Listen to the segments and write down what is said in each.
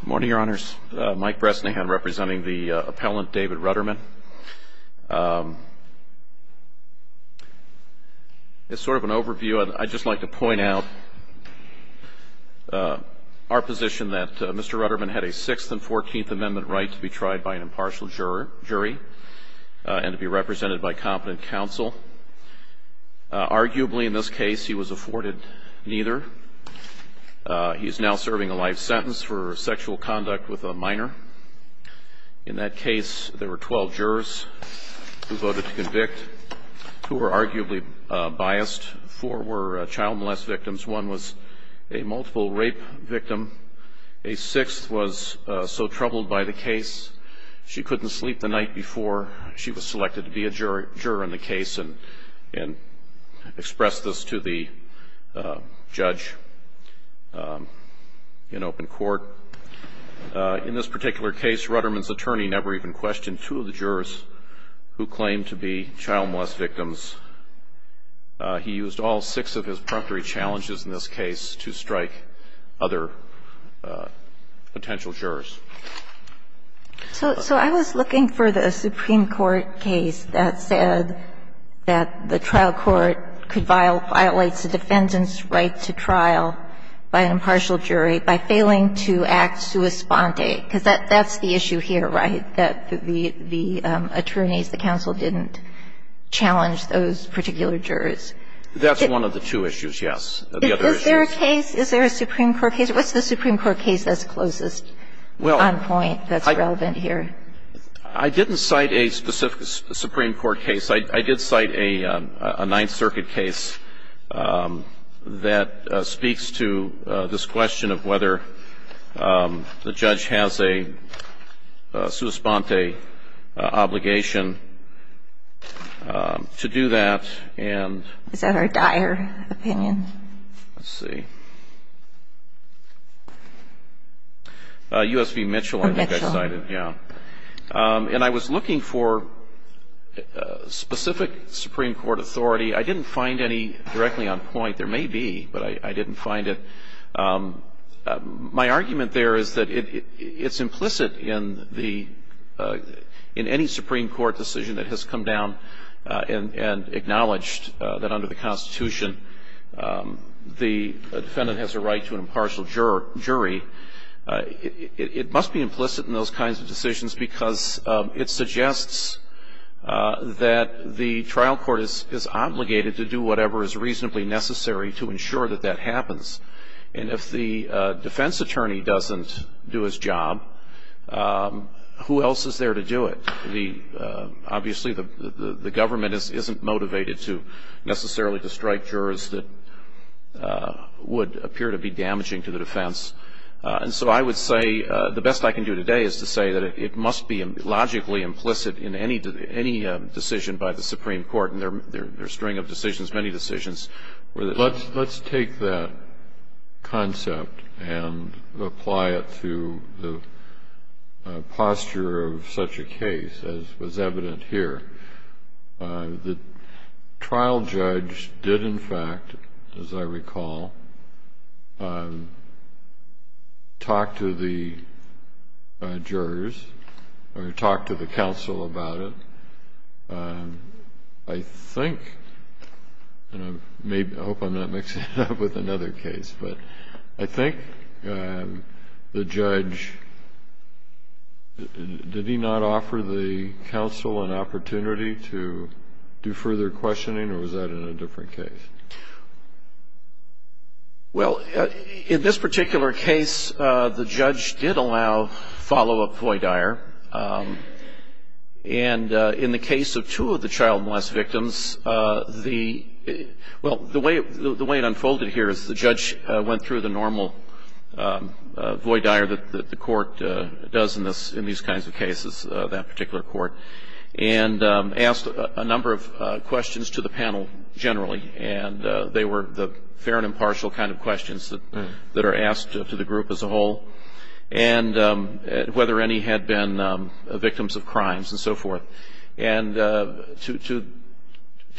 Good morning, Your Honors. Mike Bresnahan representing the appellant, David Ruderman. As sort of an overview, I'd just like to point out our position that Mr. Ruderman had a Sixth and Fourteenth Amendment right to be tried by an impartial jury and to be represented by competent counsel. Arguably, in this case, he was afforded neither. He is now serving a life sentence for sexual conduct with a minor. In that case, there were 12 jurors who voted to convict, two were arguably biased. Four were child molest victims. One was a multiple rape victim. A sixth was so troubled by the case she couldn't sleep the night before. She was selected to be a juror in the case and expressed this to the judge in open court. In this particular case, Ruderman's attorney never even questioned two of the jurors who claimed to be child molest victims. He used all six of his promptery challenges in this case to strike other potential jurors. So I was looking for the Supreme Court case that said that the trial court could violate the defendant's right to trial by an impartial jury by failing to act sua sponte, because that's the issue here, right, that the attorneys, the counsel, didn't challenge those particular jurors. That's one of the two issues, yes. Is there a case, is there a Supreme Court case? What's the Supreme Court case that's closest on point that's relevant here? Well, I didn't cite a specific Supreme Court case. I did cite a Ninth Circuit case that speaks to this question of whether the judge has a sua sponte obligation to do that and Is that our dire opinion? Let's see. U.S. v. Mitchell, I think I cited. Mitchell. Yeah. And I was looking for a specific Supreme Court authority. I didn't find any directly on point. There may be, but I didn't find it. My argument there is that it's implicit in the any Supreme Court decision that has come down and acknowledged that under the Constitution, the defendant has a right to an impartial jury. It must be implicit in those kinds of decisions because it suggests that the trial court is obligated to do whatever is reasonably necessary to ensure that that happens. And if the defense attorney doesn't do his job, who else is there to do it? Obviously, the government isn't motivated necessarily to strike jurors that would appear to be damaging to the defense. And so I would say the best I can do today is to say that it must be logically implicit in any decision by the Supreme Court. And there are a string of decisions, many decisions. Let's take that concept and apply it to the posture of such a case as was evident here. The trial judge did, in fact, as I recall, talk to the jurors or talk to the counsel about it. I think, and I hope I'm not mixing it up with another case, but I think the judge, did he not offer the counsel an opportunity to do further questioning or was that in a different case? Well, in this particular case, the judge did allow follow-up FOIA dire. And in the case of two of the child molest victims, the, well, the way it unfolded here is the judge went through the normal FOIA dire that the court does in these kinds of cases, that particular court, and asked a number of questions to the panel generally. And they were the fair and impartial kind of questions that are asked to the group as a whole. And whether any had been victims of crimes and so forth. And to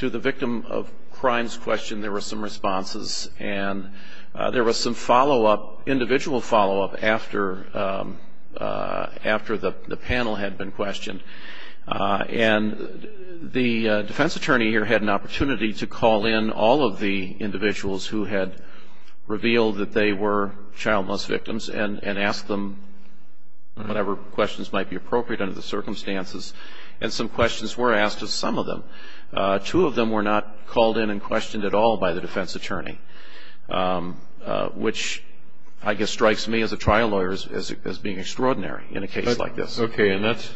the victim of crimes questioned, there were some responses. And there was some follow-up, individual follow-up after the panel had been questioned. And the defense attorney here had an opportunity to call in all of the individuals who had revealed that they were child molest victims and ask them whatever questions might be appropriate under the circumstances. And some questions were asked of some of them. Two of them were not called in and questioned at all by the defense attorney, which, I guess, strikes me as a trial lawyer as being extraordinary in a case like this. Okay. And that's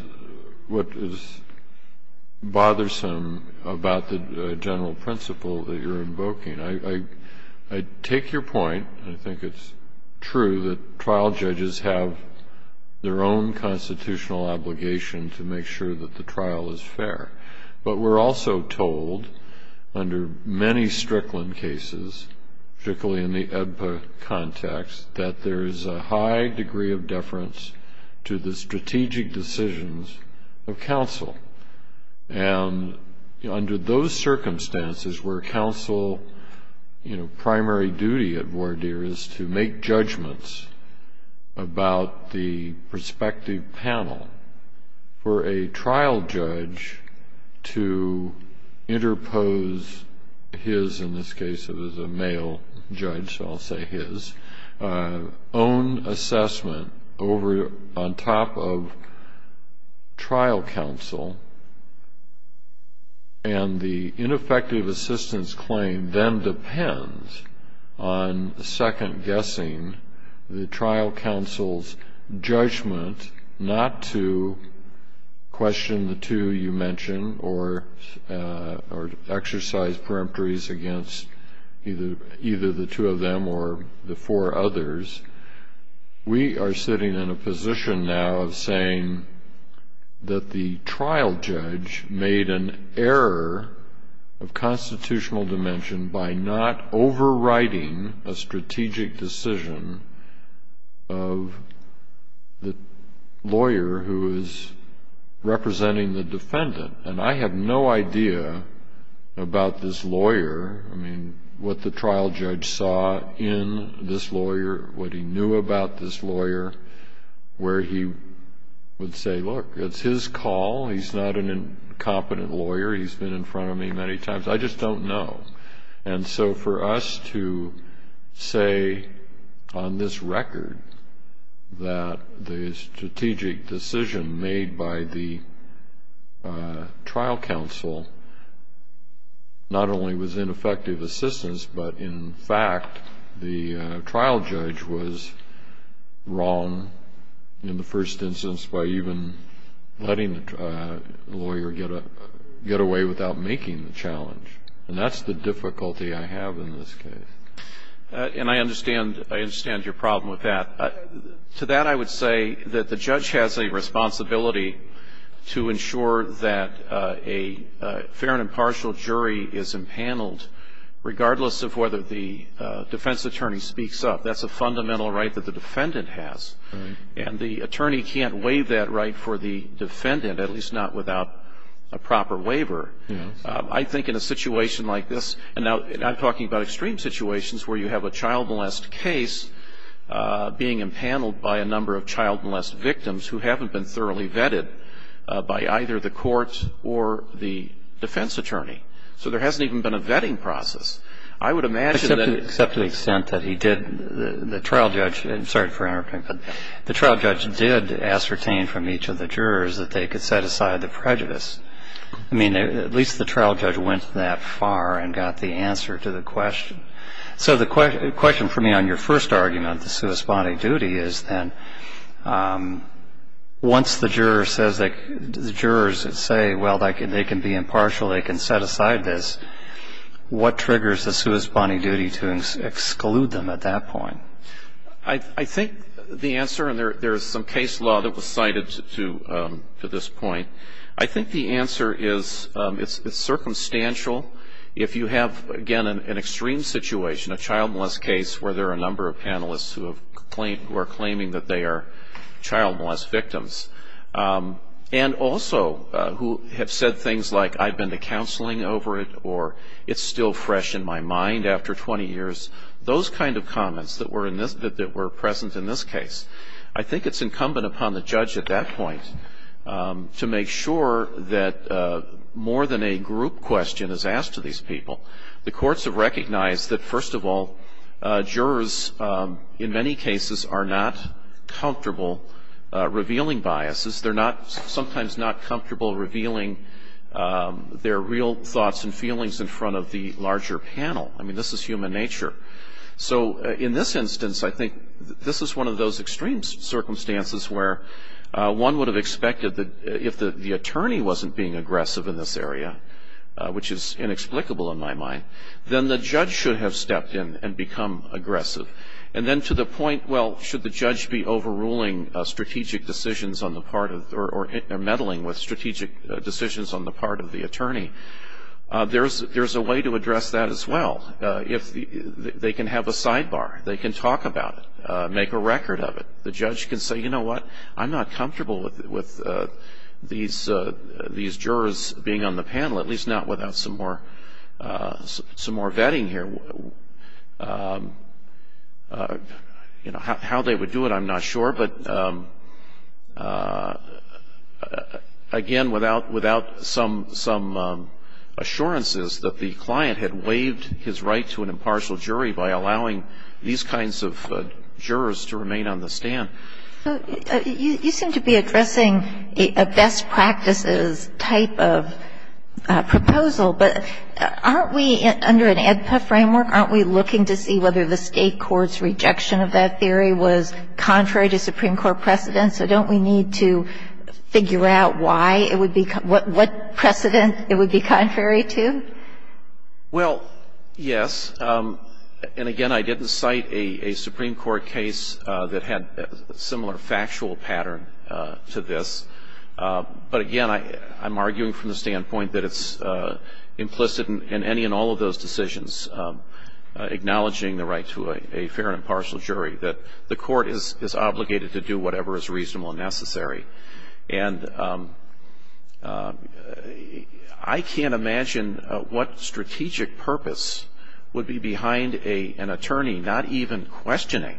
what is bothersome about the general principle that you're invoking. I take your point. I think it's true that trial judges have their own constitutional obligation to make sure that the trial is fair. But we're also told under many Strickland cases, particularly in the EBPA context, that there is a high degree of deference to the strategic decisions of counsel. And under those circumstances where counsel, you know, primary duty at voir dire is to make judgments about the prospective panel for a trial judge to interpose his, in this case it was a male judge, so I'll say his, own assessment on top of trial counsel. And the ineffective assistance claim then depends on second-guessing the trial counsel's judgment not to question the two you mentioned or exercise peremptories against either the two of them or the four others. We are sitting in a position now of saying that the trial judge made an error of constitutional dimension by not overriding a strategic decision of the lawyer who is representing the defendant. And I have no idea about this lawyer, I mean, what the trial judge saw in this lawyer, what he knew about this lawyer, where he would say, look, it's his call, he's not an incompetent lawyer, he's been in front of me many times, I just don't know. And so for us to say on this record that the strategic decision made by the trial counsel not only was ineffective assistance, but in fact the trial judge was wrong in the first instance by even letting the lawyer get away without making the challenge. And that's the difficulty I have in this case. And I understand your problem with that. To that I would say that the judge has a responsibility to ensure that a fair and impartial jury is empaneled, regardless of whether the defense attorney speaks up. That's a fundamental right that the defendant has. And the attorney can't waive that right for the defendant, at least not without a proper waiver. I think in a situation like this, and now I'm talking about extreme situations where you have a child molest case being empaneled by a number of child molest victims who haven't been thoroughly vetted by either the court or the defense attorney. So there hasn't even been a vetting process. I would imagine that the trial judge did ascertain from each of the jurors that they could set aside the prejudice. I mean, at least the trial judge went that far and got the answer to the question. So the question for me on your first argument, the sui sponte duty, is then once the jurors say, well, they can be impartial, they can set aside this, what triggers the sui sponte duty to exclude them at that point? I think the answer, and there is some case law that was cited to this point, I think the answer is it's circumstantial. If you have, again, an extreme situation, a child molest case where there are a number of panelists who are claiming that they are child molest victims, and also who have said things like I've been to counseling over it or it's still fresh in my mind after 20 years, those kind of comments that were present in this case, I think it's incumbent upon the judge at that point to make sure that more than a group question is asked to these people. The courts have recognized that, first of all, jurors in many cases are not comfortable revealing biases. They're not sometimes not comfortable revealing their real thoughts and feelings in front of the larger panel. I mean, this is human nature. So in this instance, I think this is one of those extreme circumstances where one would have expected that if the attorney wasn't being aggressive in this area, which is inexplicable in my mind, then the judge should have stepped in and become aggressive. And then to the point, well, should the judge be overruling strategic decisions on the part of, or meddling with strategic decisions on the part of the attorney, there's a way to address that as well. They can have a sidebar. They can talk about it, make a record of it. The judge can say, you know what, I'm not comfortable with these jurors being on the panel, at least not without some more vetting here. How they would do it, I'm not sure. But, again, without some assurances that the client had waived his right to an impartial jury by allowing these kinds of jurors to remain on the stand. You seem to be addressing a best practices type of proposal. But aren't we, under an AEDPA framework, aren't we looking to see whether the State court's rejection of that theory was contrary to Supreme Court precedent? So don't we need to figure out why it would be, what precedent it would be contrary to? Well, yes. And, again, I didn't cite a Supreme Court case that had a similar factual pattern to this. But, again, I'm arguing from the standpoint that it's implicit in any and all of those decisions, acknowledging the right to a fair and impartial jury, that the court is obligated to do whatever is reasonable and necessary. And I can't imagine what strategic purpose would be behind an attorney not even questioning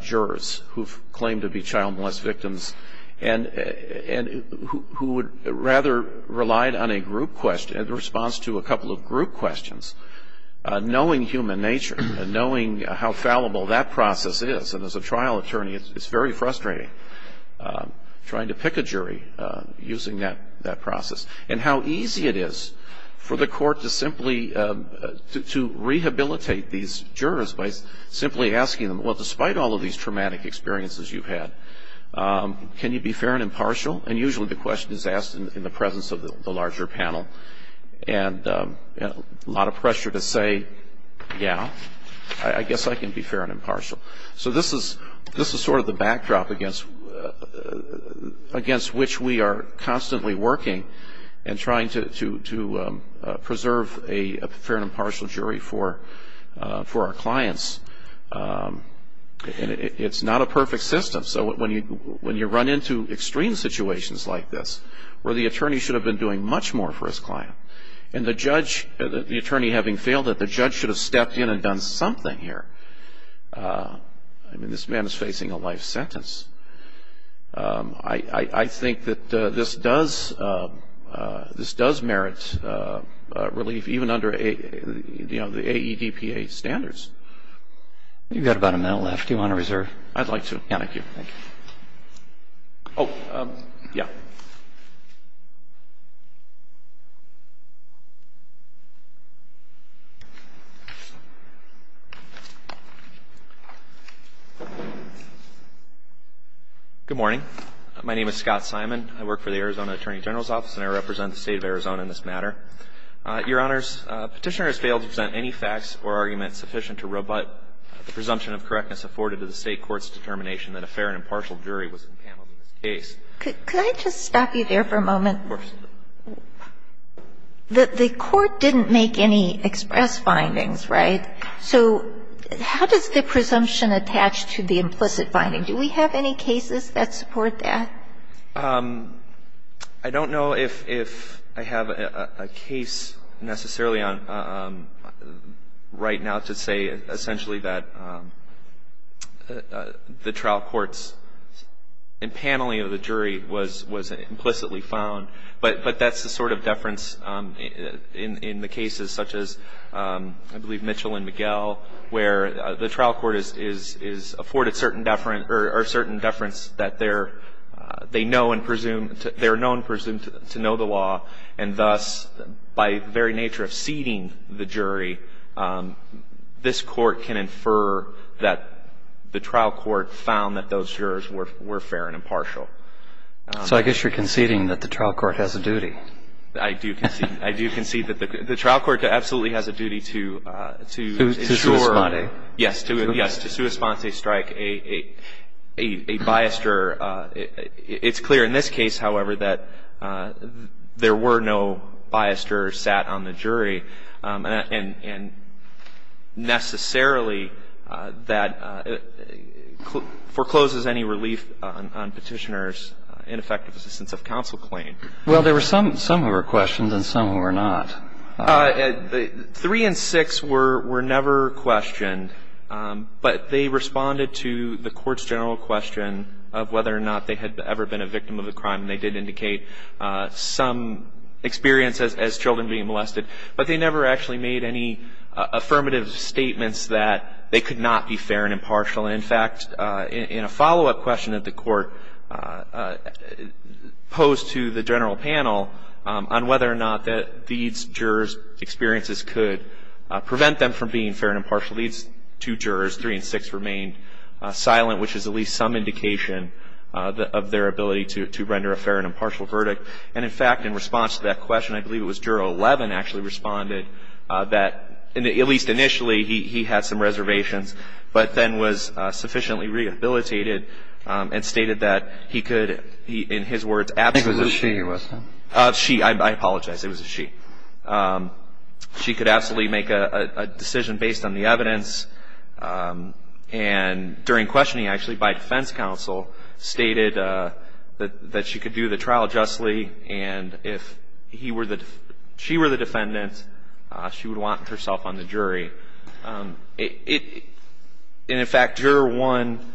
jurors who claim to be child molest victims and who would rather rely on a group question, a response to a couple of group questions, knowing human nature, knowing how fallible that process is. And as a trial attorney, it's very frustrating trying to pick a jury using that process. And how easy it is for the court to simply rehabilitate these jurors by simply asking them, well, despite all of these traumatic experiences you've had, can you be fair and impartial? And usually the question is asked in the presence of the larger panel. And a lot of pressure to say, yeah, I guess I can be fair and impartial. So this is sort of the backdrop against which we are constantly working and trying to preserve a fair and impartial jury for our clients. And it's not a perfect system. So when you run into extreme situations like this where the attorney should have been doing much more for his client and the judge, the attorney having failed it, the judge should have stepped in and done something here. I mean, this man is facing a life sentence. I think that this does merit relief, even under, you know, the AEDPA standards. You've got about a minute left. Do you want to reserve? I'd like to. Yeah, thank you. Thank you. Oh, yeah. Good morning. My name is Scott Simon. I work for the Arizona Attorney General's Office, and I represent the State of Arizona in this matter. Your Honors, Petitioner has failed to present any facts or argument sufficient to rebut the presumption of correctness afforded to the State court's determination that a fair and impartial jury was enpaneled in this case. Could I just stop you there for a moment? Of course. The court didn't make any express findings, right? So how does the presumption attach to the implicit finding? Do we have any cases that support that? I don't know if I have a case necessarily right now to say, essentially, that the trial court's enpaneling of the jury was implicitly found, but that's the sort of deference in the cases such as, I believe, Mitchell and Miguel, where the trial court is afforded certain deference that they know and presume to know the law, and thus, by the very nature of ceding the jury, this court can infer that the trial court found that those jurors were fair and impartial. So I guess you're conceding that the trial court has a duty. I do concede. I do concede that the trial court absolutely has a duty to ensure that the jury is fair and impartial. Yes. Yes. To sui sponte, a strike, a bias juror, it's clear in this case, however, that there were no biased jurors sat on the jury, and necessarily that forecloses any relief on Petitioner's ineffective assistance of counsel claim. Well, there were some who were questioned and some who were not. Three and six were never questioned, but they responded to the Court's general question of whether or not they had ever been a victim of a crime, and they did indicate some experience as children being molested. But they never actually made any affirmative statements that they could not be fair and impartial. And, in fact, in a follow-up question that the Court posed to the general panel on whether or not these jurors' experiences could prevent them from being fair and impartial, these two jurors, three and six, remained silent, which is at least some indication of their ability to render a fair and impartial verdict. And, in fact, in response to that question, I believe it was Juror 11 actually responded that, at least initially, he had some reservations, but then was sufficiently rehabilitated and stated that he could, in his words, absolutely. I think it was a she, wasn't it? A she. I apologize. It was a she. She could absolutely make a decision based on the evidence. And during questioning, actually, by defense counsel, stated that she could do the trial justly, and if she were the defendant, she would want herself on the jury. And, in fact, Juror 1,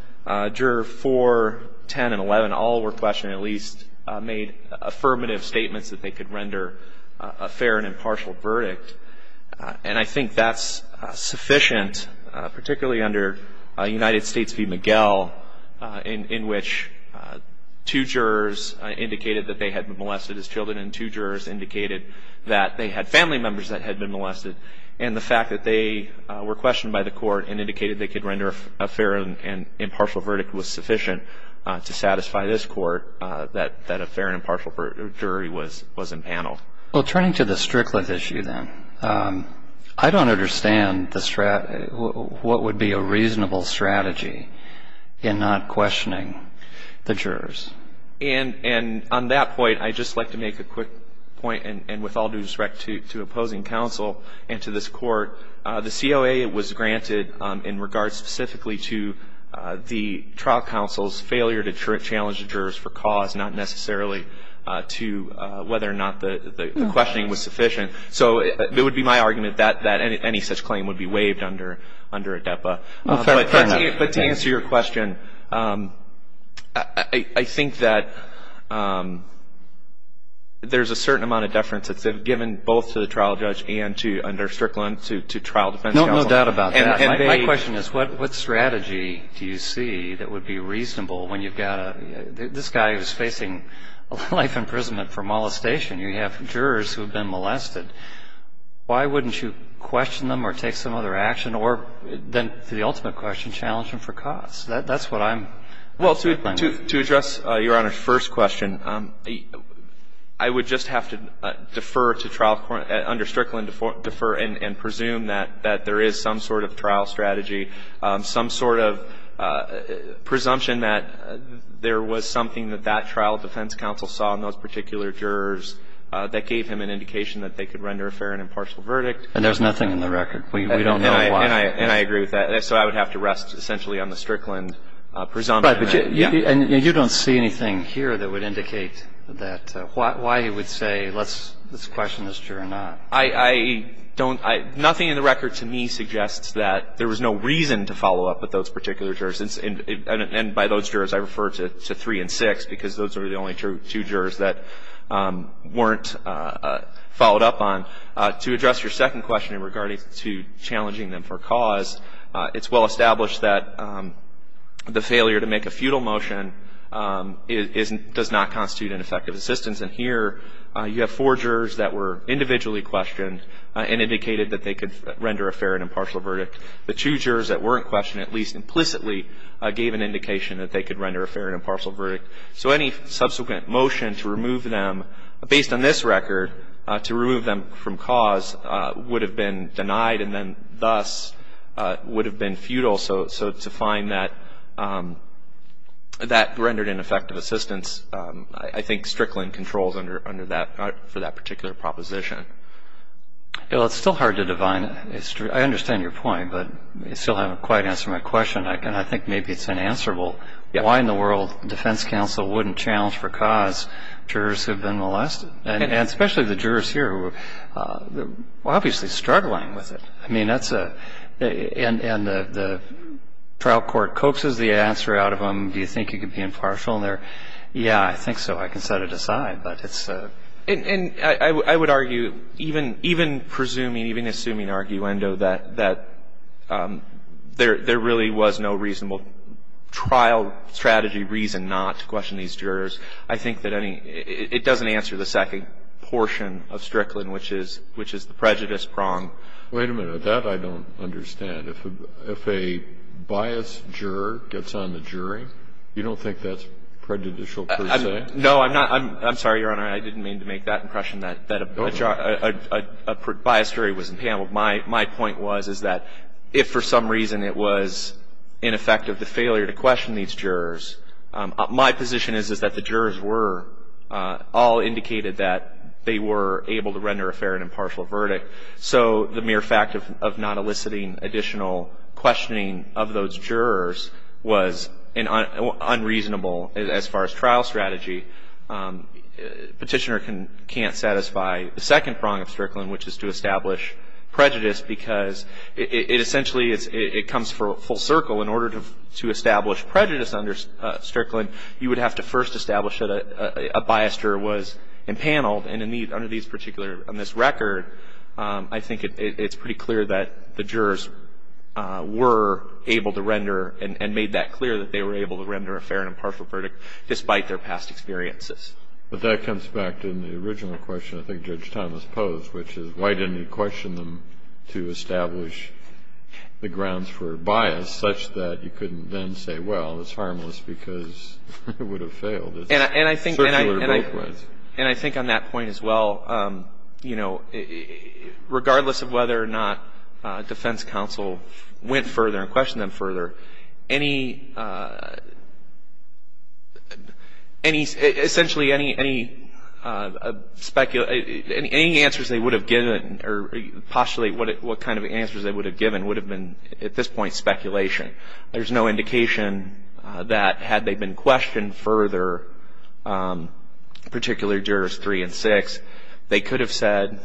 Juror 4, 10, and 11 all were questioned and at least made affirmative statements that they could render a fair and impartial verdict. And I think that's sufficient, particularly under United States v. Miguel, in which two jurors indicated that they had been molested as children and two jurors indicated that they had family members that had been molested, and the fact that they were questioned by the court and indicated they could render a fair and impartial verdict was sufficient to satisfy this court that a fair and impartial jury was in panel. Well, turning to the Strickland issue, then, I don't understand what would be a reasonable strategy in not questioning the jurors. And on that point, I'd just like to make a quick point, and with all due respect to opposing counsel and to this court, the COA was granted in regards specifically to the trial counsel's failure to challenge the jurors for cause, not necessarily to whether or not the questioning was sufficient. So it would be my argument that any such claim would be waived under ADEPA. Well, fair enough. But to answer your question, I think that there's a certain amount of deference that's given both to the trial judge and under Strickland to trial defense counsel. No doubt about that. My question is, what strategy do you see that would be reasonable when you've got a – this guy is facing life imprisonment for molestation. You have jurors who have been molested. Why wouldn't you question them or take some other action, or then, to the ultimate question, challenge them for cause? That's what I'm – Well, to address Your Honor's first question, I would just have to defer to trial – under Strickland, defer and presume that there is some sort of trial strategy, some sort of presumption that there was something that that trial defense counsel saw in those particular jurors that gave him an indication that they could render a fair and impartial verdict. And there's nothing in the record. We don't know why. And I agree with that. So I would have to rest essentially on the Strickland presumption. Right. But you don't see anything here that would indicate that – why he would say let's question this juror or not. I don't – nothing in the record to me suggests that there was no reason to follow up with those particular jurors. And by those jurors, I refer to three and six, because those are the only two jurors that weren't followed up on. To address your second question in regards to challenging them for cause, it's well established that the failure to make a feudal motion does not constitute an effective assistance. And here you have four jurors that were individually questioned and indicated that they could render a fair and impartial verdict. The two jurors that weren't questioned, at least implicitly, gave an indication that they could render a fair and impartial verdict. So any subsequent motion to remove them, based on this record, to remove them from cause would have been denied and then thus would have been feudal. So to find that rendered ineffective assistance, I think Strickland controls under that – for that particular proposition. It's still hard to divine. I understand your point, but you still haven't quite answered my question. I think maybe it's unanswerable why in the world defense counsel wouldn't challenge for cause jurors who have been molested, and especially the jurors here who are obviously struggling with it. I mean, that's a – and the trial court coaxes the answer out of them. Do you think you could be impartial in there? Yeah, I think so. I can set it aside. And I would argue, even presuming, even assuming arguendo, that there really was no reasonable trial strategy reason not to question these jurors, I think that any – it doesn't answer the second portion of Strickland, which is the prejudice prong. Wait a minute. That I don't understand. If a biased juror gets on the jury, you don't think that's prejudicial per se? No, I'm not – I'm sorry, Your Honor. I didn't mean to make that impression that a biased jury was impampled. My point was is that if for some reason it was in effect of the failure to question these jurors, my position is is that the jurors were all indicated that they were able to render a fair and impartial verdict. So the mere fact of not eliciting additional questioning of those jurors was unreasonable as far as trial strategy. Petitioner can't satisfy the second prong of Strickland, which is to establish prejudice because it essentially is – it comes full circle. In order to establish prejudice under Strickland, you would have to first establish that a biased juror was impaneled. And under these particular – on this record, I think it's pretty clear that the jurors were able to render and made that clear that they were able to render a fair and impartial verdict despite their past experiences. But that comes back to the original question I think Judge Thomas posed, which is why didn't he question them to establish the grounds for bias such that you couldn't then say, well, it's harmless because it would have failed. It's circular both ways. And I think on that point as well, you know, regardless of whether or not defense counsel went further and questioned them further, any – essentially any answers they would have given or postulate what kind of answers they would have given would have been at this point speculation. There's no indication that had they been questioned further, particularly Jurors 3 and 6, they could have said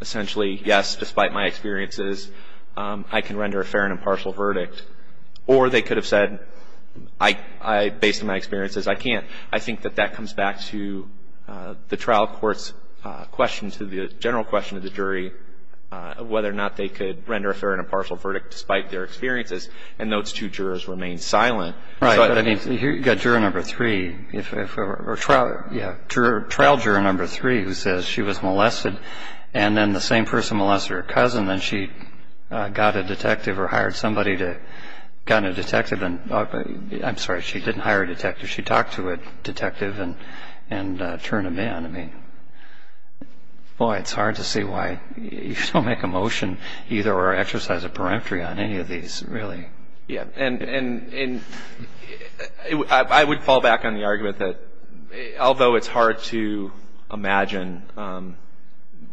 essentially, yes, despite my experiences, I can render a fair and impartial verdict. Or they could have said, based on my experiences, I can't. I think that that comes back to the trial court's question, to the general question of the jury of whether or not they could render a fair and impartial verdict despite their experiences. And those two jurors remained silent. Right. I mean, you've got Juror Number 3. Or trial – yeah. Trial Juror Number 3 who says she was molested, and then the same person molested her cousin, and she got a detective or hired somebody to – got a detective and – I'm sorry, she didn't hire a detective. She talked to a detective and turned him in. I mean, boy, it's hard to see why you don't make a motion either or exercise a peremptory on any of these, really. Yeah. And I would fall back on the argument that although it's hard to imagine,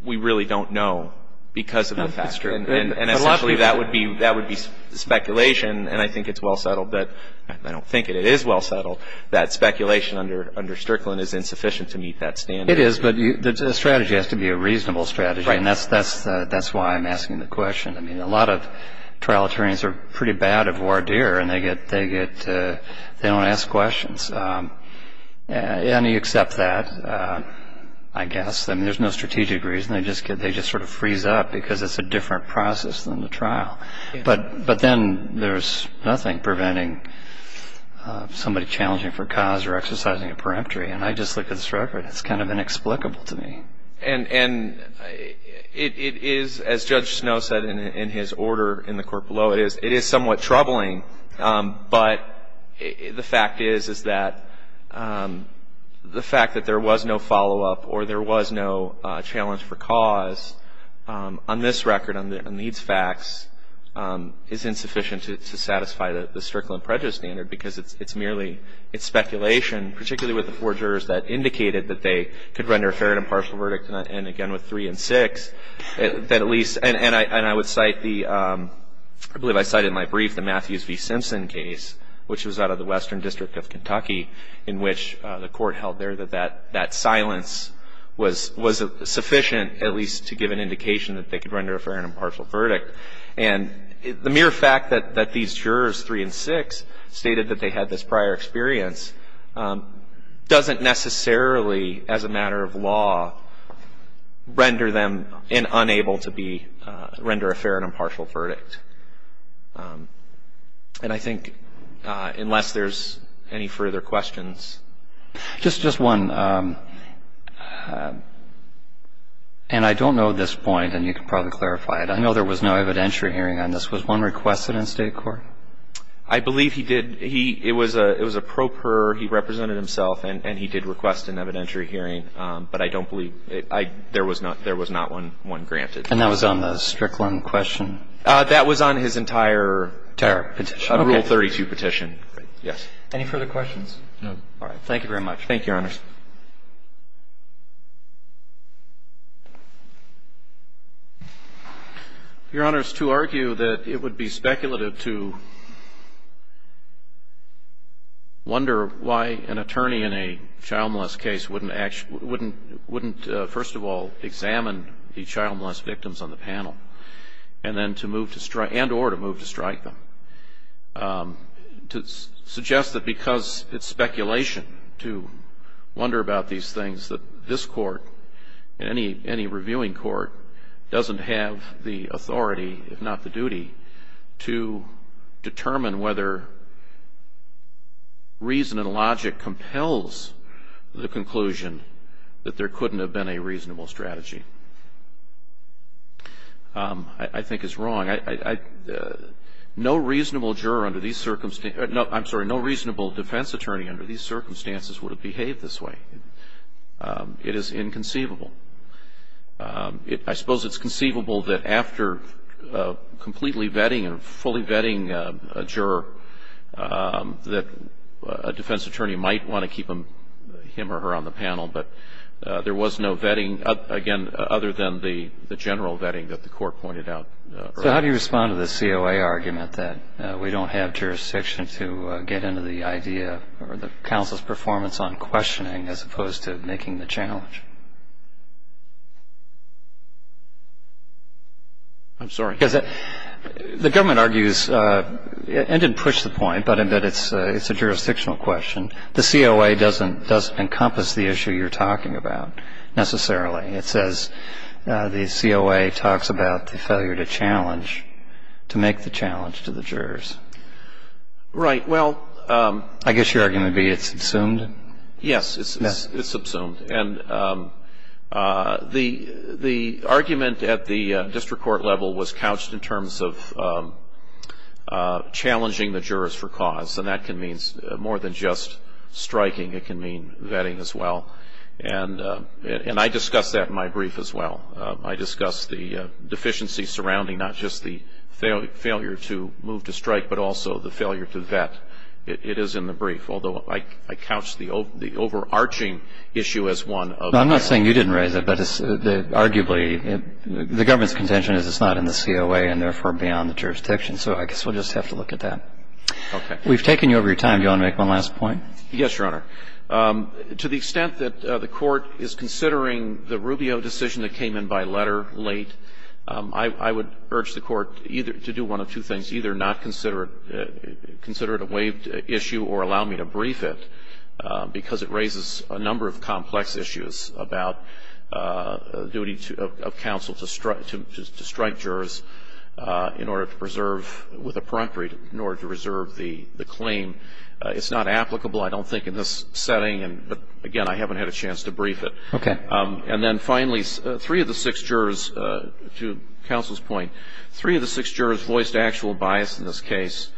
we really don't know because of that factor. And essentially that would be speculation, and I think it's well settled, but I don't think it is well settled, that speculation under Strickland is insufficient to meet that standard. It is, but the strategy has to be a reasonable strategy. Right. And that's why I'm asking the question. I mean, a lot of trial attorneys are pretty bad at voir dire, and they get – they don't ask questions. And you accept that, I guess. I mean, there's no strategic reason. They just sort of freeze up because it's a different process than the trial. But then there's nothing preventing somebody challenging for cause or exercising a peremptory, and I just look at this record. It's kind of inexplicable to me. And it is, as Judge Snow said in his order in the court below, it is somewhat troubling. But the fact is is that the fact that there was no follow-up or there was no challenge for cause on this record, on these facts, is insufficient to satisfy the Strickland prejudice standard because it's merely – it's speculation, particularly with the four jurors that indicated that they could render a fair and impartial verdict. And again, with three and six, that at least – and I would cite the – I believe I cited in my brief the Matthews v. Simpson case, which was out of the Western District of Kentucky, in which the court held there that that silence was sufficient at least to give an indication that they could render a fair and impartial verdict. And the mere fact that these jurors, three and six, stated that they had this prior experience doesn't necessarily, as a matter of law, render them unable to be – render a fair and impartial verdict. And I think unless there's any further questions. Just one. And I don't know this point, and you can probably clarify it. I know there was no evidentiary hearing on this. Was one requested in state court? I believe he did. He – it was a pro per. He represented himself, and he did request an evidentiary hearing. But I don't believe – there was not one granted. And that was on the Strickland question? That was on his entire Rule 32 petition. Yes. Any further questions? No. Thank you very much. Thank you, Your Honors. Your Honors, to argue that it would be speculative to wonder why an attorney in a child molest case wouldn't first of all examine the child molest victims on the panel and then to move to strike – and or to move to strike them, to suggest that because it's speculation to wonder about these things that this Court, any reviewing court, doesn't have the authority, if not the duty, to determine whether reason and logic compels the conclusion that there couldn't have been a reasonable strategy, I think is wrong. No reasonable defense attorney under these circumstances would have behaved this way. It is inconceivable. I suppose it's conceivable that after completely vetting and fully vetting a juror, that a defense attorney might want to keep him or her on the panel. But there was no vetting, again, other than the general vetting that the Court pointed out. So how do you respond to the COA argument that we don't have jurisdiction to get into the idea or the counsel's performance on questioning as opposed to making the challenge? I'm sorry. Because the government argues – and didn't push the point, but it's a jurisdictional question – the COA doesn't encompass the issue you're talking about necessarily. It says the COA talks about the failure to challenge, to make the challenge to the jurors. Right. Well – I guess your argument would be it's subsumed? Yes. It's subsumed. And the argument at the district court level was couched in terms of challenging the jurors for cause. And that can mean more than just striking. It can mean vetting as well. And I discuss that in my brief as well. I discuss the deficiency surrounding not just the failure to move to strike, but also the failure to vet. It is in the brief. Although I couch the overarching issue as one of the – I'm not saying you didn't raise it, but arguably the government's contention is it's not in the COA and therefore beyond the jurisdiction. So I guess we'll just have to look at that. Okay. We've taken you over your time. Do you want to make one last point? Yes, Your Honor. To the extent that the Court is considering the Rubio decision that came in by letter late, I would urge the Court either to do one of two things. Either not consider it – consider it a waived issue or allow me to brief it, because it raises a number of complex issues about duty of counsel to strike jurors in order to preserve – with appropriate – in order to preserve the claim. It's not applicable. I don't think in this setting, but, again, I haven't had a chance to brief it. Okay. And then finally, three of the six jurors, to counsel's point, three of the six jurors voiced actual bias in this case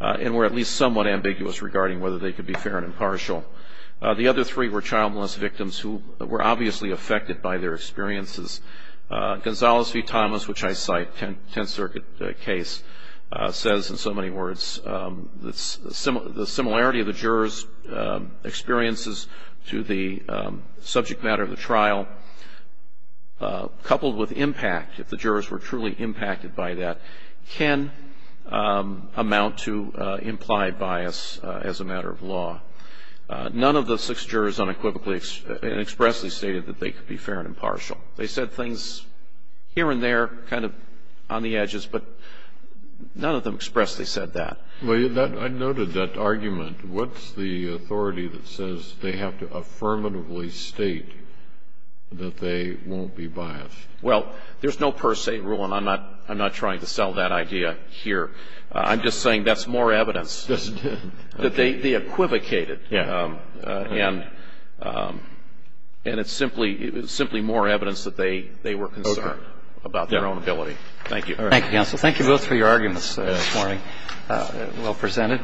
and were at least somewhat ambiguous regarding whether they could be fair and impartial. The other three were child molest victims who were obviously affected by their experiences. Gonzales v. Thomas, which I cite, 10th Circuit case, says in so many words, the similarity of the jurors' experiences to the subject matter of the trial, coupled with impact, if the jurors were truly impacted by that, can amount to implied bias as a matter of law. None of the six jurors unequivocally and expressly stated that they could be fair and impartial. They said things here and there, kind of on the edges, but none of them expressly said that. I noted that argument. What's the authority that says they have to affirmatively state that they won't be biased? Well, there's no per se rule, and I'm not trying to sell that idea here. I'm just saying that's more evidence that they equivocated. And it's simply more evidence that they were concerned about their own ability. Thank you. Thank you, counsel. Thank you both for your arguments this morning. Well presented.